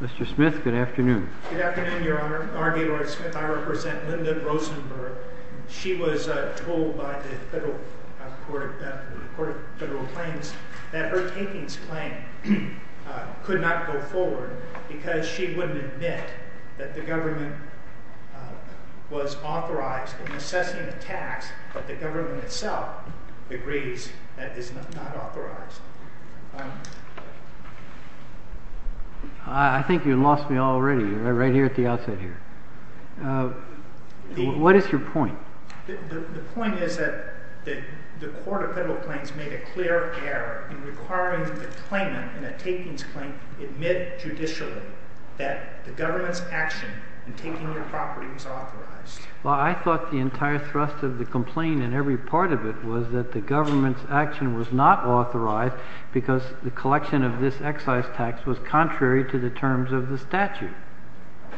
Mr. Smith, Good afternoon. Good afternoon, Your Honor. R. G. Lloyd Smith. I represent Linda Rosenberg. She was told by the Federal Court of Federal Claims that her takings claim could not go forward because she wouldn't admit that the government was authorized in assessing the tax that the government itself agrees that is not authorized. I think you lost me already right here at the outset here. What is your point? The point is that the Court of Federal Claims made a clear error in requiring the claimant in a takings claim to admit judicially that the government's action in taking your property was authorized. Well, I thought the entire thrust of the complaint in every part of it was that the government's action was not authorized because the collection of this excise tax was contrary to the terms of the statute.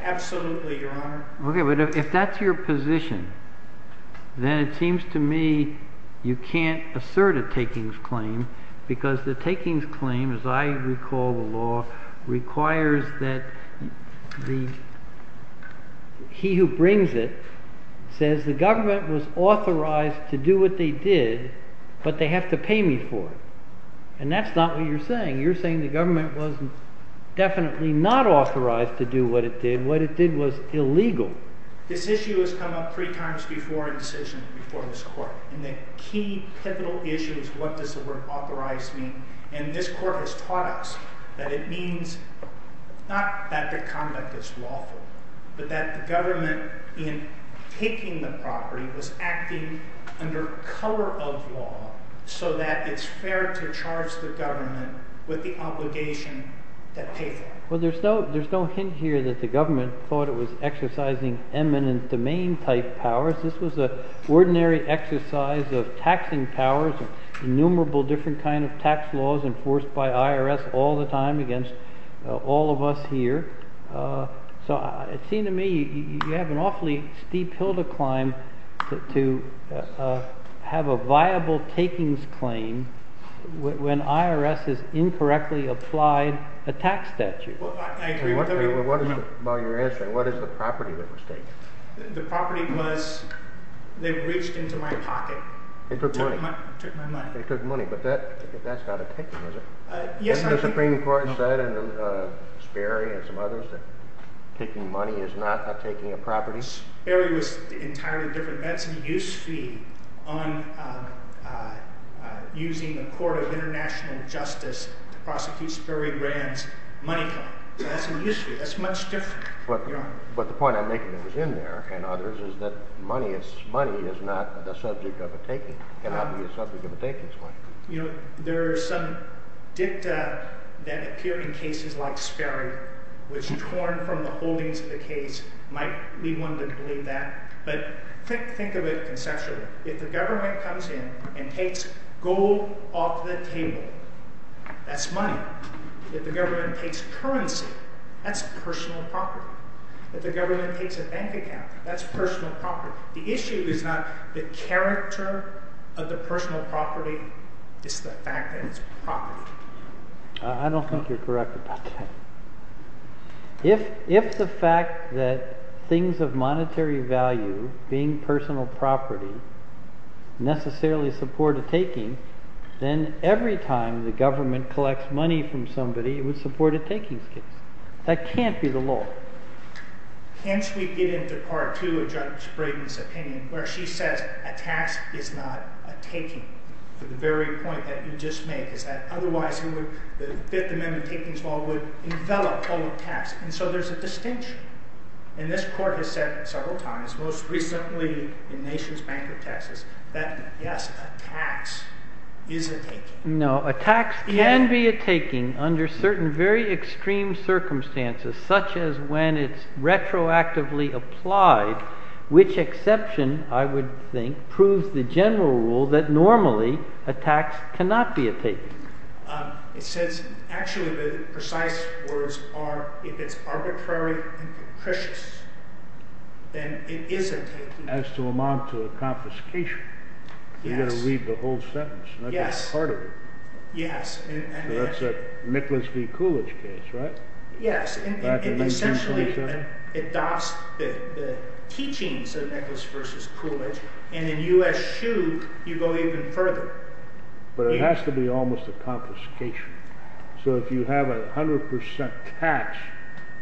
Absolutely, Your Honor. Okay, but if that's your position, then it seems to me you can't assert a takings claim because the takings claim, as I recall the law, requires that the he who brings it says the government was authorized to do what they did but they have to pay me for it. And that's not what you're saying. You're saying the government wasn't definitely not authorized to do what it did. What it did was this issue has come up three times before in decision before this court. And the key pivotal issue is what does the word authorized mean? And this court has taught us that it means not that the conduct is lawful, but that the government in taking the property was acting under color of law so that it's fair to charge the government with the obligation to pay for it. Well, there's no hint here that the government thought it was exercising eminent domain type powers. This was an ordinary exercise of taxing powers, innumerable different kind of tax laws enforced by IRS all the time against all of us here. So it seemed to me you have an awfully steep hill to climb to have a viable takings claim when IRS has incorrectly applied a tax statute. I agree with everything you're saying. What is the property that was taken? The property was, they reached into my pocket. They took money. They took my money. They took money, but that's not a taking, is it? Yes, it is. And the Supreme Court said, and Sperry and some others, that taking money is not taking a property. Sperry was entirely different. That's a use fee on using the court of international justice to prosecute Sperry Rand's money claim. That's a use fee. That's much different. But the point I'm making that was in there and others is that money is not the subject of a taking. It cannot be the subject of a takings claim. You know, there are some dicta that appear in cases like Sperry, which torn from the holdings of the case might be one to believe that. But think of it conceptually. If the government comes in and takes gold off the table, that's money. If the government takes currency, that's personal property. If the government takes a bank account, that's personal property. The issue is not the character of the personal property. It's the fact that it's property. I don't think you're correct about that. If the fact that things of monetary value being personal property necessarily support a taking, then every time the government collects money from somebody, it would support a takings case. That can't be the law. Hence we get into part two of Judge Brayden's opinion where she says a tax is not a taking. The very point that you just made is that otherwise the Fifth Amendment takings law would envelop all of tax. And so there's a distinction. And this court has said several times, most recently in Nations Bank of Texas, that yes, a tax is a taking. No, a tax can be a taking under certain very extreme circumstances such as when it's retroactively applied, which exception, I would think, proves the general rule that normally a tax cannot be a taking. It says actually the precise words are if it's arbitrary and capricious, then it is a taking. As to amount to a confiscation. Yes. You've got to read the whole sentence. Yes. That's part of it. Yes. That's a Nicholas v. Coolidge case, right? Yes. Back in 1827? It essentially adopts the teachings of Nicholas versus Coolidge. And in U.S. Shoe, you go even further. But it has to be almost a confiscation. So if you have a 100% tax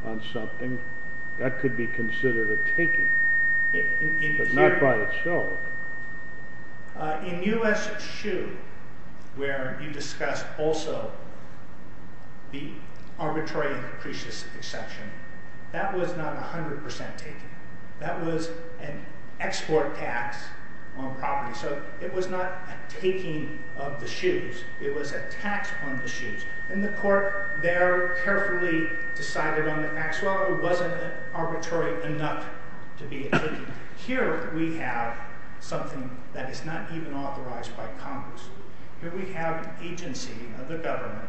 on something, that could be considered a taking. But not by itself. In U.S. Shoe, where you discussed also the arbitrary and capricious exception, that was not a 100% taking. That was an export tax on property. So it was not a taking of the shoes. It was a tax on the shoes. And the court there carefully decided on the facts. Well, it wasn't arbitrary enough to be a taking. Here we have something that is not even authorized by Congress. Here we have an agency of the government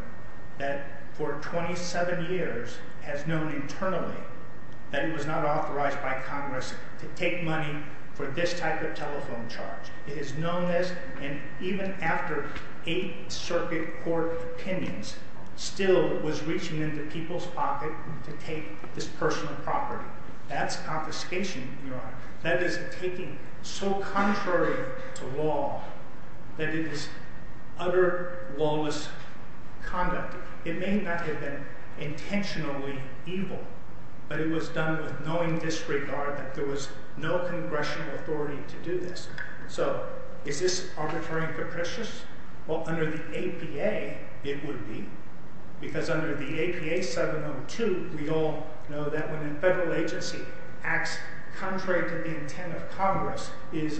that for 27 years has known internally that it was not authorized by Congress to take money for this type of telephone charge. It is known as, and even after eight circuit court opinions, still was reaching into people's pocket to take this personal property. That's confiscation, Your Honor. That is taking so contrary to law that it is utter lawless conduct. It may not have been intentionally evil, but it was done with knowing disregard that there was no congressional authority to do this. So is this arbitrary and capricious? Well, under the APA, it would be. Because under the APA 702, we all know that when a federal agency acts contrary to the intent of Congress, its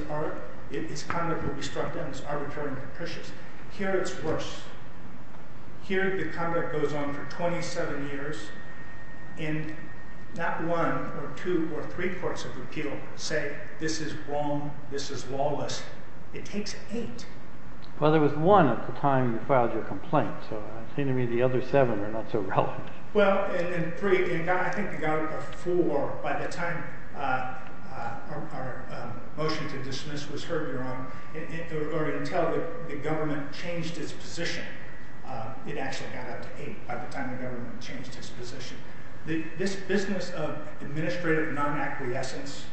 conduct will be struck down as arbitrary and capricious. Here it's worse. Here the conduct goes on for 27 years, and not one or two or three courts of repeal say this is wrong, this is lawless. It takes eight. Well, there was one at the time you filed your complaint, so it seemed to me the other seven were not so relevant. Well, and three, I think the government got four by the time our motion to dismiss was heard, Your Honor, or until the government changed its position. It actually got up to eight by the time the government changed its position. This business of administrative non-acquiescence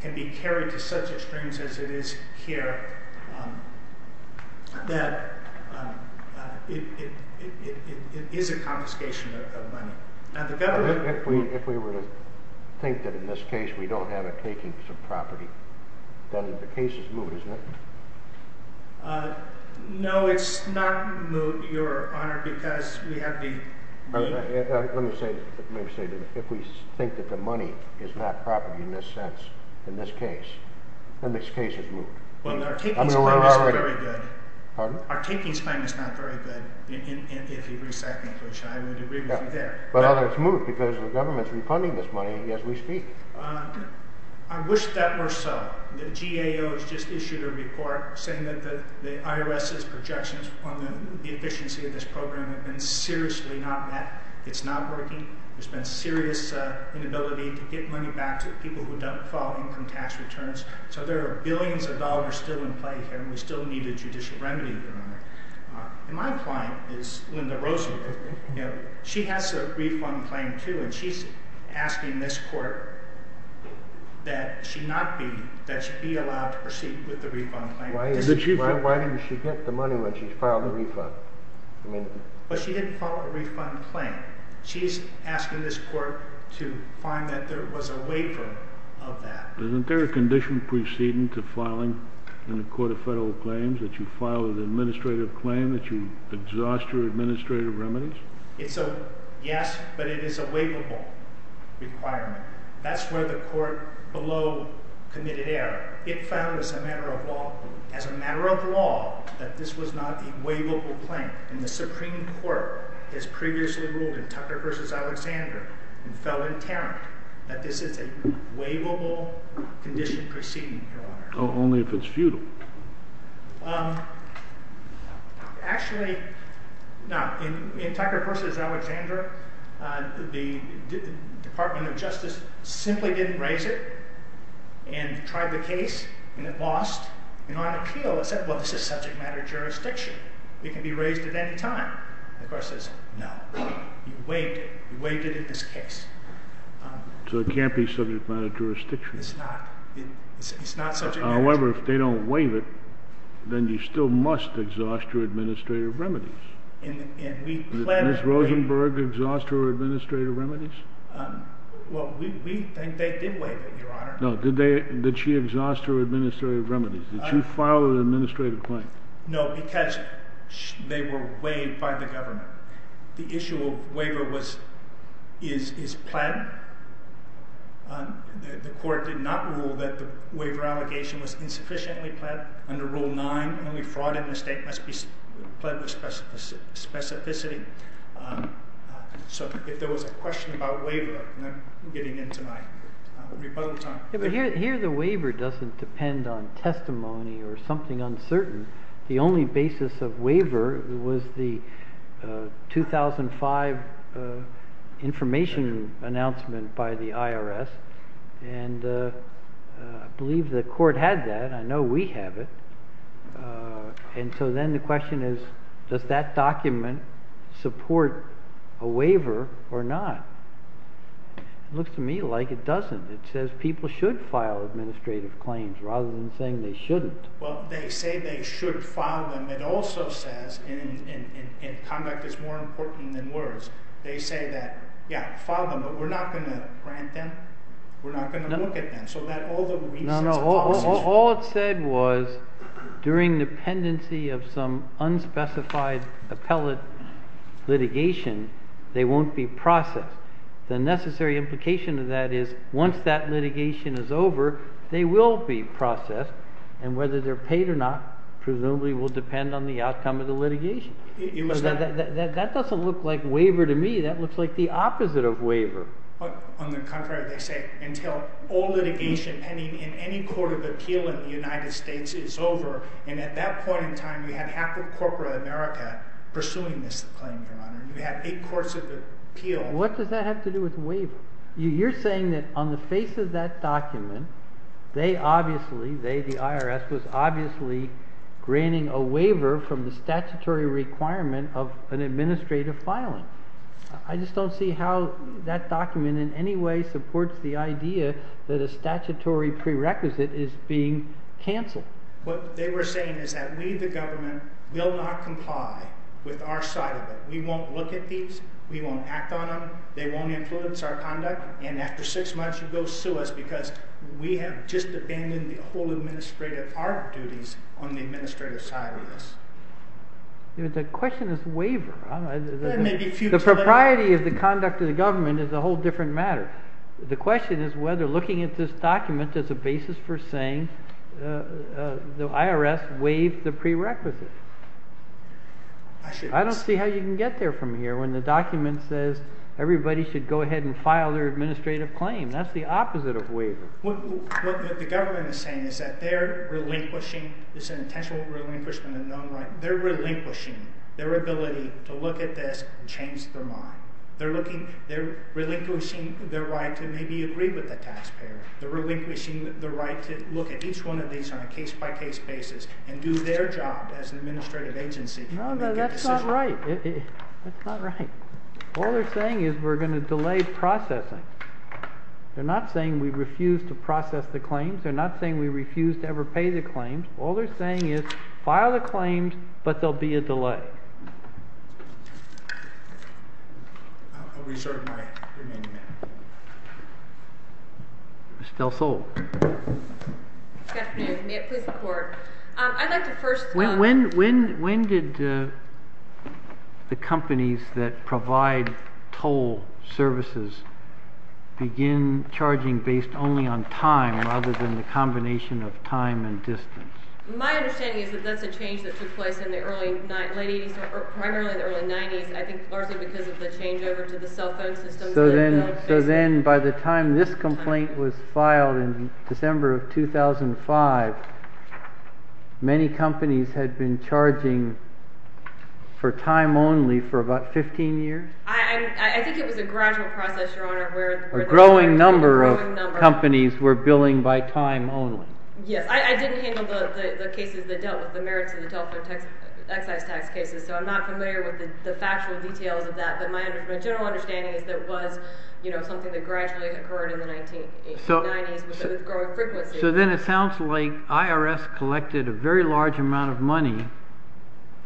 can be carried to such extremes as it is here that it is a confiscation of money. If we were to think that in this case we don't have a taking some property, then the case is moot, isn't it? No, it's not moot, Your Honor, because we have the... Let me say that if we think that the money is not property in this sense, in this case, then this case is moot. Well, our taking is not very good. Pardon? Our taking is not very good, if you agree with that conclusion. I would agree with you there. But it's moot because the government is refunding this money as we speak. I wish that were so. The GAO has just issued a report saying that the IRS's projections on the efficiency of this program have been seriously not met. It's not working. There's been serious inability to get money back to people who don't follow income tax returns. So there are billions of dollars still in play here, and we still need a judicial remedy, Your Honor. My client is Linda Rosenberg. She has a refund claim, too, and she's asking this court that she be allowed to proceed with the refund claim. Why didn't she get the money when she filed the refund? Well, she didn't file a refund claim. She's asking this court to find that there was a waiver of that. Isn't there a condition preceding to filing in the Court of Federal Claims that you file an administrative claim that you exhaust your administrative remedies? Yes, but it is a waivable requirement. That's where the court below committed error. It found as a matter of law that this was not a waivable claim. And the Supreme Court has previously ruled in Tucker v. Alexandra and fell in tarrant that this is a waivable condition preceding, Your Honor. Oh, only if it's futile. Actually, no. In Tucker v. Alexandra, the Department of Justice simply didn't raise it and tried the case and it lost. And on appeal, it said, well, this is subject matter jurisdiction. It can be raised at any time. The court says, no. You waived it in this case. So it can't be subject matter jurisdiction. It's not subject matter jurisdiction. However, if they don't waive it, then you still must exhaust your administrative remedies. Did Ms. Rosenberg exhaust her administrative remedies? Well, we think they did waive it, Your Honor. No, did she exhaust her administrative remedies? Did she file an administrative claim? No, because they were waived by the government. The issue of waiver is planned. The court did not rule that the waiver allegation was insufficiently planned under Rule 9. Only fraud in the state must be pled with specificity. So if there was a question about waiver, I'm getting into my rebuttal time. But here the waiver doesn't depend on testimony or something uncertain. The only basis of waiver was the 2005 information announcement by the IRS. And I believe the court had that. I know we have it. And so then the question is, does that document support a waiver or not? It looks to me like it doesn't. It says people should file administrative claims rather than saying they shouldn't. Well, they say they should file them. It also says, and conduct is more important than words, they say that, yeah, file them. But we're not going to grant them. We're not going to look at them. So that all the reasons are possible. No, no. All it said was during dependency of some unspecified appellate litigation, they won't be processed. The necessary implication of that is once that litigation is over, they will be processed. And whether they're paid or not presumably will depend on the outcome of the litigation. That doesn't look like waiver to me. That looks like the opposite of waiver. On the contrary, they say until all litigation pending in any court of appeal in the United States is over. And at that point in time, you have half of corporate America pursuing this claim, Your Honor. You have eight courts of appeal. What does that have to do with waiver? You're saying that on the face of that document, they obviously, they, the IRS, was obviously granting a waiver from the statutory requirement of an administrative filing. I just don't see how that document in any way supports the idea that a statutory prerequisite is being canceled. What they were saying is that we, the government, will not comply with our side of it. We won't look at these. We won't act on them. They won't influence our conduct. And after six months, you go sue us because we have just abandoned the whole administrative, our duties on the administrative side of this. The question is waiver. The propriety of the conduct of the government is a whole different matter. The question is whether looking at this document is a basis for saying the IRS waived the prerequisite. I don't see how you can get there from here when the document says everybody should go ahead and file their administrative claim. That's the opposite of waiver. What the government is saying is that they're relinquishing, it's an intentional relinquishment of known right, they're relinquishing their ability to look at this and change their mind. They're looking, they're relinquishing their right to maybe agree with the taxpayer. They're relinquishing the right to look at each one of these on a case-by-case basis and do their job as an administrative agency to make a decision. No, that's not right. That's not right. All they're saying is we're going to delay processing. They're not saying we refuse to process the claims. They're not saying we refuse to ever pay the claims. All they're saying is file the claims, but there will be a delay. I'll reserve my remaining minute. Ms. Del Sol. Good afternoon. May it please the Court. I'd like to first throw out. When did the companies that provide toll services begin charging based only on time rather than the combination of time and distance? My understanding is that that's a change that took place in the early, late 80s or primarily the early 90s, I think largely because of the changeover to the cell phone system. So then by the time this complaint was filed in December of 2005, many companies had been charging for time only for about 15 years? I think it was a gradual process, Your Honor. A growing number of companies were billing by time only. Yes. I didn't handle the cases that dealt with the merits of the telephone excise tax cases, so I'm not familiar with the factual details of that. But my general understanding is that it was something that gradually occurred in the 1990s with growing frequency. So then it sounds like IRS collected a very large amount of money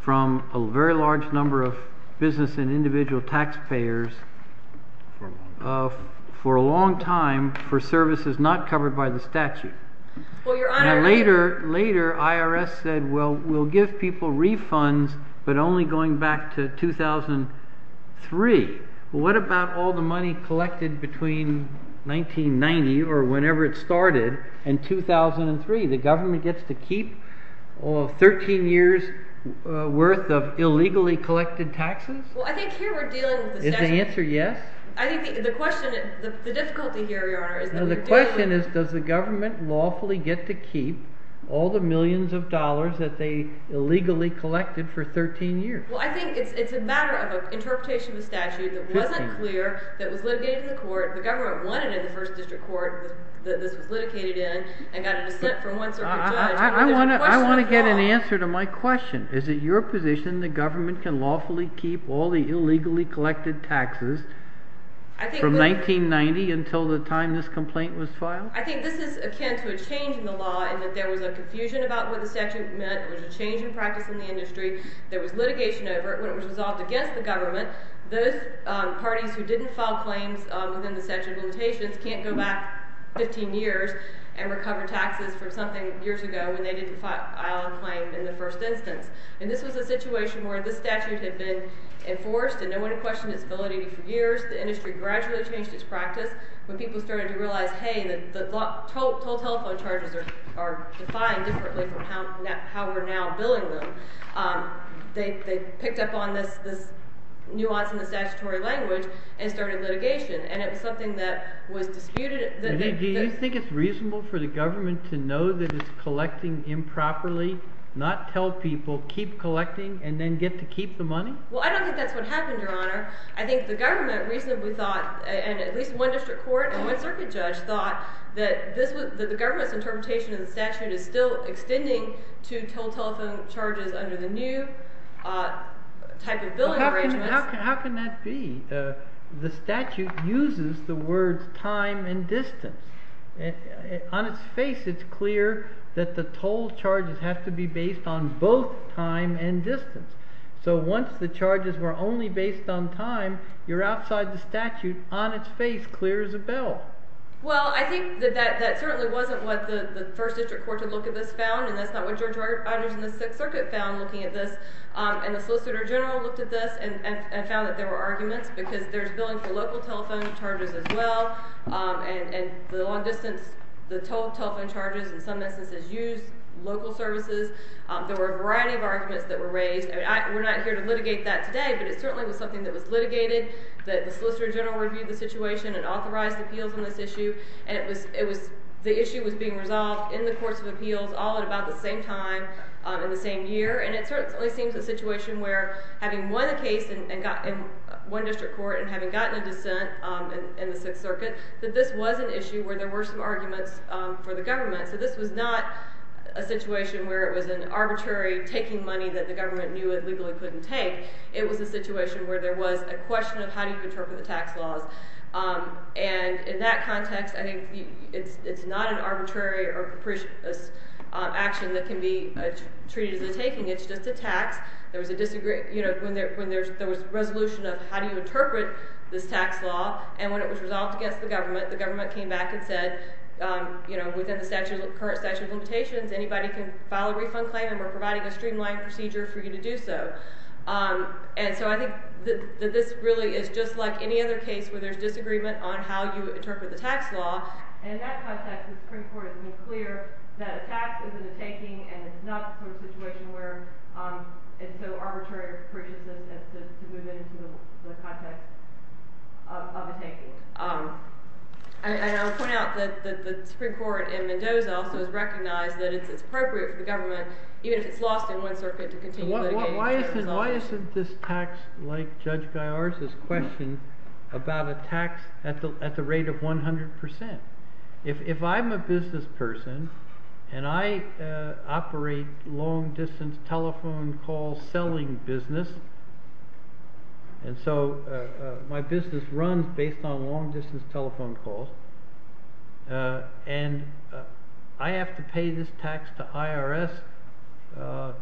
from a very large number of business and individual taxpayers for a long time for services not covered by the statute. Well, Your Honor. Later, IRS said, well, we'll give people refunds but only going back to 2003. What about all the money collected between 1990 or whenever it started in 2003? The government gets to keep 13 years' worth of illegally collected taxes? Well, I think here we're dealing with the statute. Is the answer yes? I think the question, the difficulty here, Your Honor, is that we're dealing with… …all the millions of dollars that they illegally collected for 13 years. Well, I think it's a matter of an interpretation of a statute that wasn't clear, that was litigated in the court. The government won it in the first district court that this was litigated in and got a dissent from one circuit judge. I want to get an answer to my question. Is it your position the government can lawfully keep all the illegally collected taxes from 1990 until the time this complaint was filed? I think this is akin to a change in the law in that there was a confusion about what the statute meant. There was a change in practice in the industry. There was litigation over it. When it was resolved against the government, those parties who didn't file claims within the statute of limitations can't go back 15 years… …and recover taxes from something years ago when they didn't file a claim in the first instance. And this was a situation where this statute had been enforced and no one had questioned its validity for years. The industry gradually changed its practice when people started to realize, hey, the toll telephone charges are defined differently from how we're now billing them. They picked up on this nuance in the statutory language and started litigation, and it was something that was disputed. Do you think it's reasonable for the government to know that it's collecting improperly, not tell people, keep collecting, and then get to keep the money? Well, I don't think that's what happened, Your Honor. I think the government reasonably thought, and at least one district court and one circuit judge thought, that the government's interpretation of the statute is still extending to toll telephone charges under the new type of billing arrangements. How can that be? The statute uses the words time and distance. On its face, it's clear that the toll charges have to be based on both time and distance. So once the charges were only based on time, you're outside the statute. On its face, clear as a bell. Well, I think that that certainly wasn't what the first district court had looked at this found, and that's not what Judge Rogers in the Sixth Circuit found looking at this. And the Solicitor General looked at this and found that there were arguments because there's billing for local telephone charges as well, and the long distance, the toll telephone charges in some instances use local services. There were a variety of arguments that were raised. We're not here to litigate that today, but it certainly was something that was litigated. The Solicitor General reviewed the situation and authorized appeals on this issue, and the issue was being resolved in the courts of appeals all at about the same time in the same year. And it certainly seems a situation where having won a case in one district court and having gotten a dissent in the Sixth Circuit, that this was an issue where there were some arguments for the government. So this was not a situation where it was an arbitrary taking money that the government knew it legally couldn't take. It was a situation where there was a question of how do you interpret the tax laws. And in that context, I think it's not an arbitrary or capricious action that can be treated as a taking. It's just a tax. There was a resolution of how do you interpret this tax law, and when it was resolved against the government, the government came back and said, within the current statute of limitations, anybody can file a refund claim, and we're providing a streamlined procedure for you to do so. And so I think that this really is just like any other case where there's disagreement on how you interpret the tax law. And in that context, the Supreme Court has made clear that a tax isn't a taking, and it's not a situation where it's so arbitrary or capricious as to move into the context of a taking. And I'll point out that the Supreme Court in Mendoza also has recognized that it's appropriate for the government, even if it's lost in one circuit, to continue litigation. Why isn't this tax, like Judge Gaiar's question, about a tax at the rate of 100%? If I'm a business person, and I operate long-distance telephone call selling business, and so my business runs based on long-distance telephone calls, and I have to pay this tax to IRS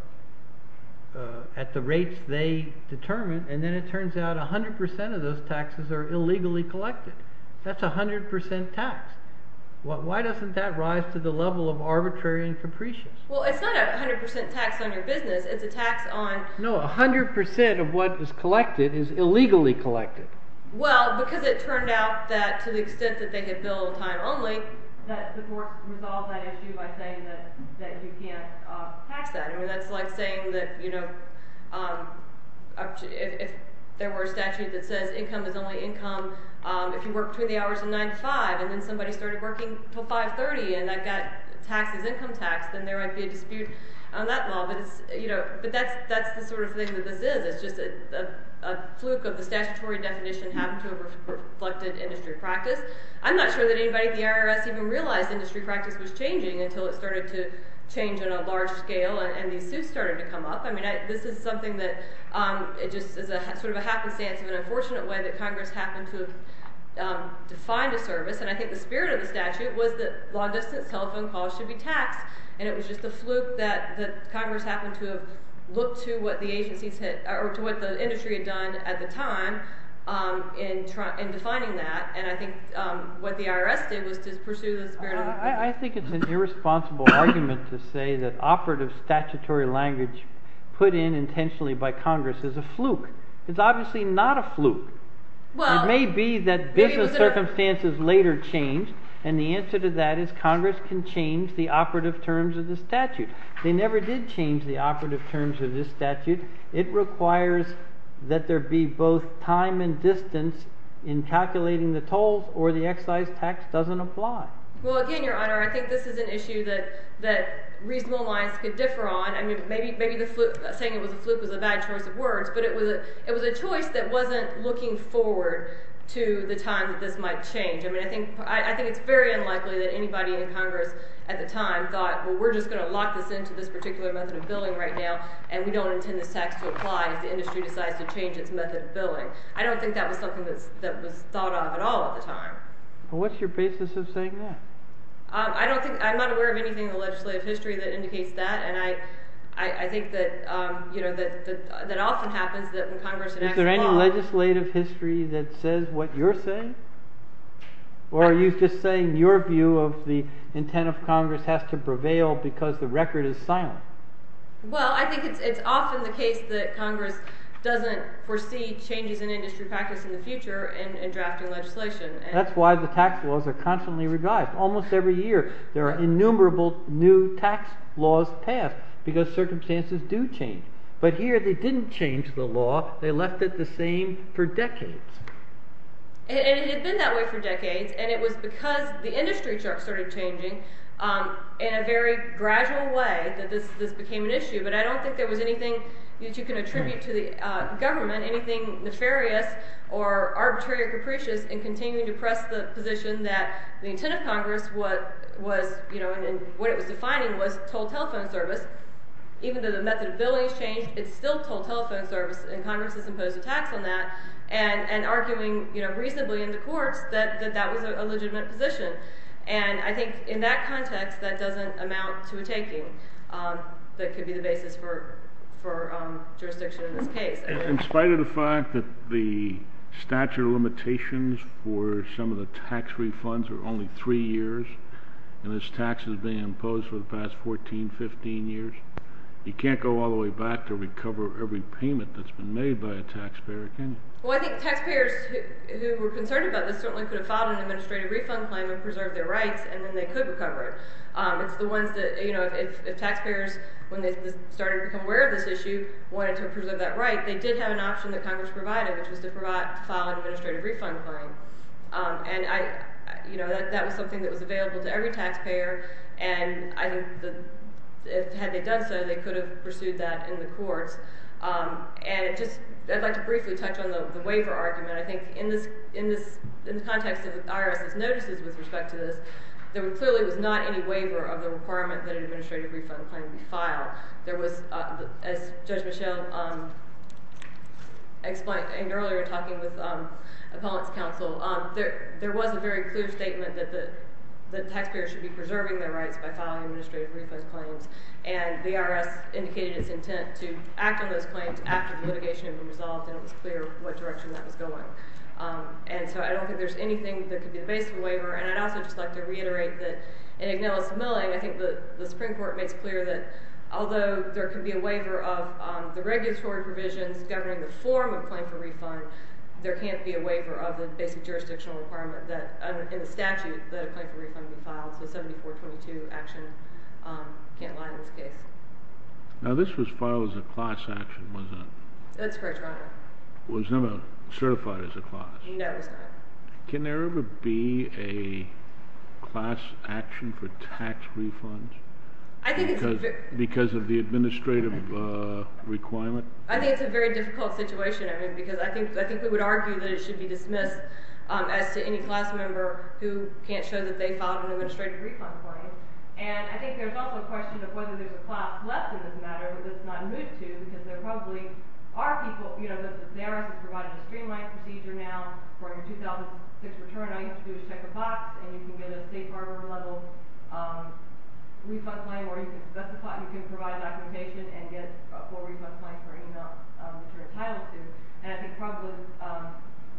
at the rates they determine, and then it turns out 100% of those taxes are illegally collected. That's 100% tax. Why doesn't that rise to the level of arbitrary and capricious? Well, it's not a 100% tax on your business. It's a tax on… No, 100% of what is collected is illegally collected. Well, because it turned out that, to the extent that they had billed time only, that the court resolved that issue by saying that you can't tax that. I mean, that's like saying that, you know, if there were a statute that says income is only income if you work between the hours of 9 to 5, and then somebody started working till 5.30, and that tax is income tax, then there might be a dispute on that law. But that's the sort of thing that this is. It's just a fluke of the statutory definition happened to a reflected industry practice. I'm not sure that anybody at the IRS even realized industry practice was changing until it started to change on a large scale and these suits started to come up. I mean, this is something that just is sort of a happenstance of an unfortunate way that Congress happened to have defined a service, and I think the spirit of the statute was that long-distance telephone calls should be taxed. And it was just a fluke that Congress happened to have looked to what the industry had done at the time in defining that, and I think what the IRS did was to pursue the spirit of the statute. I think it's an irresponsible argument to say that operative statutory language put in intentionally by Congress is a fluke. It's obviously not a fluke. It may be that business circumstances later changed, and the answer to that is Congress can change the operative terms of the statute. They never did change the operative terms of this statute. It requires that there be both time and distance in calculating the tolls or the excise tax doesn't apply. Well, again, Your Honor, I think this is an issue that reasonable minds could differ on. I mean, maybe saying it was a fluke was a bad choice of words, but it was a choice that wasn't looking forward to the time that this might change. I mean, I think it's very unlikely that anybody in Congress at the time thought, well, we're just going to lock this into this particular method of billing right now, and we don't intend this tax to apply if the industry decides to change its method of billing. I don't think that was something that was thought of at all at the time. Well, what's your basis of saying that? I don't think I'm not aware of anything in the legislative history that indicates that, and I think that often happens that when Congress enacts a law— Is there any legislative history that says what you're saying? Or are you just saying your view of the intent of Congress has to prevail because the record is silent? Well, I think it's often the case that Congress doesn't foresee changes in industry practice in the future in drafting legislation. That's why the tax laws are constantly revised. Almost every year there are innumerable new tax laws passed because circumstances do change. But here they didn't change the law. They left it the same for decades. And it had been that way for decades, and it was because the industry started changing in a very gradual way that this became an issue. But I don't think there was anything that you can attribute to the government, anything nefarious or arbitrary or capricious, in continuing to press the position that the intent of Congress was— and arguing reasonably in the courts that that was a legitimate position. And I think in that context that doesn't amount to a taking that could be the basis for jurisdiction in this case. In spite of the fact that the statute of limitations for some of the tax refunds are only three years, and this tax has been imposed for the past 14, 15 years, you can't go all the way back to recover every payment that's been made by a taxpayer, can you? Well, I think taxpayers who were concerned about this certainly could have filed an administrative refund claim and preserved their rights, and then they could recover it. It's the ones that—if taxpayers, when they started to become aware of this issue, wanted to preserve that right, they did have an option that Congress provided, which was to file an administrative refund claim. And that was something that was available to every taxpayer, and I think had they done so, they could have pursued that in the courts. And I'd like to briefly touch on the waiver argument. I think in the context of IRS's notices with respect to this, there clearly was not any waiver of the requirement that an administrative refund claim be filed. There was—as Judge Michel explained earlier, talking with appellant's counsel, there was a very clear statement that the taxpayer should be preserving their rights by filing administrative refund claims. And the IRS indicated its intent to act on those claims after the litigation had been resolved, and it was clear what direction that was going. And so I don't think there's anything that could be the basis of a waiver, and I'd also just like to reiterate that in Ignelis Milling, I think the Supreme Court makes clear that although there could be a waiver of the regulatory provisions governing the form of a claim for refund, there can't be a waiver of the basic jurisdictional requirement that, in the statute, that a claim for refund be filed. So 7422 action can't lie in this case. Now, this was filed as a class action, wasn't it? That's correct, Your Honor. It was never certified as a class? No, it was not. Can there ever be a class action for tax refunds because of the administrative requirement? I think it's a very difficult situation, I mean, because I think we would argue that it should be dismissed as to any class member who can't show that they filed an administrative refund claim. And I think there's also a question of whether there's a class left in this matter, but that's not new to you, because there probably are people, you know, this is there, it's provided a streamlined procedure now, for your 2006 return, all you have to do is check a box, and you can get a safe harbor-level refund claim, or you can specify, you can provide documentation and get a full refund claim per email, which you're entitled to. And I think probably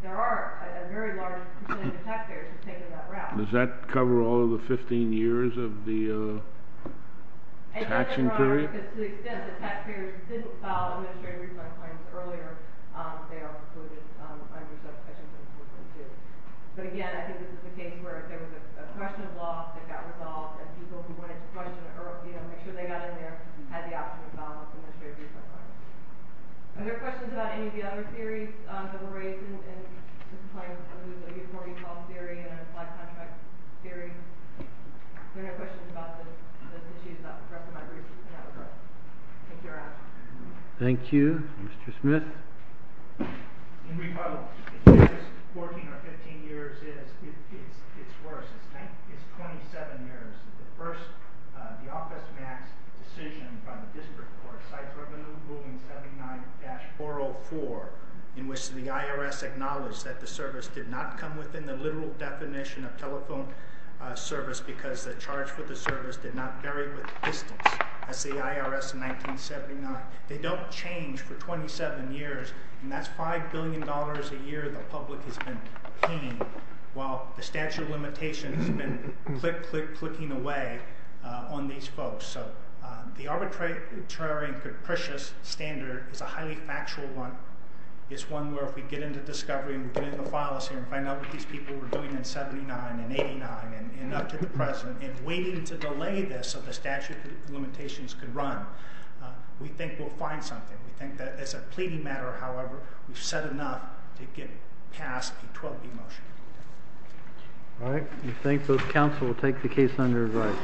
there are a very large percentage of taxpayers who have taken that route. Does that cover all of the 15 years of the taxing period? Yes, Your Honor, because to the extent that taxpayers didn't file administrative refund claims earlier, they are included under section 742. But again, I think this is the case where if there was a question of loss, it got resolved, and people who wanted to make sure they got in there had the option to file an administrative refund claim. Are there questions about any of the other theories that were raised in this claim? The morning call theory and the black contract theory? There are no questions about those issues, correct? Thank you, Your Honor. Thank you. Mr. Smith? In rebuttal, if there's 14 or 15 years, it's worse. It's 27 years. The first, the Office Max decision by the District Court, CITES Revenue Ruling 79-404, in which the IRS acknowledged that the service did not come within the literal definition of telephone service because the charge for the service did not vary with distance. That's the IRS in 1979. They don't change for 27 years, and that's $5 billion a year the public has been paying, while the statute of limitations has been click, click, clicking away on these folks. So the arbitrary and capricious standard is a highly factual one. It's one where if we get into discovery and we're doing the files here and find out what these people were doing in 79 and 89 and up to the present, and waiting to delay this so the statute of limitations could run, we think we'll find something. We think that as a pleading matter, however, we've said enough to get past a 12B motion. All right. We thank both counsel. We'll take the case under review.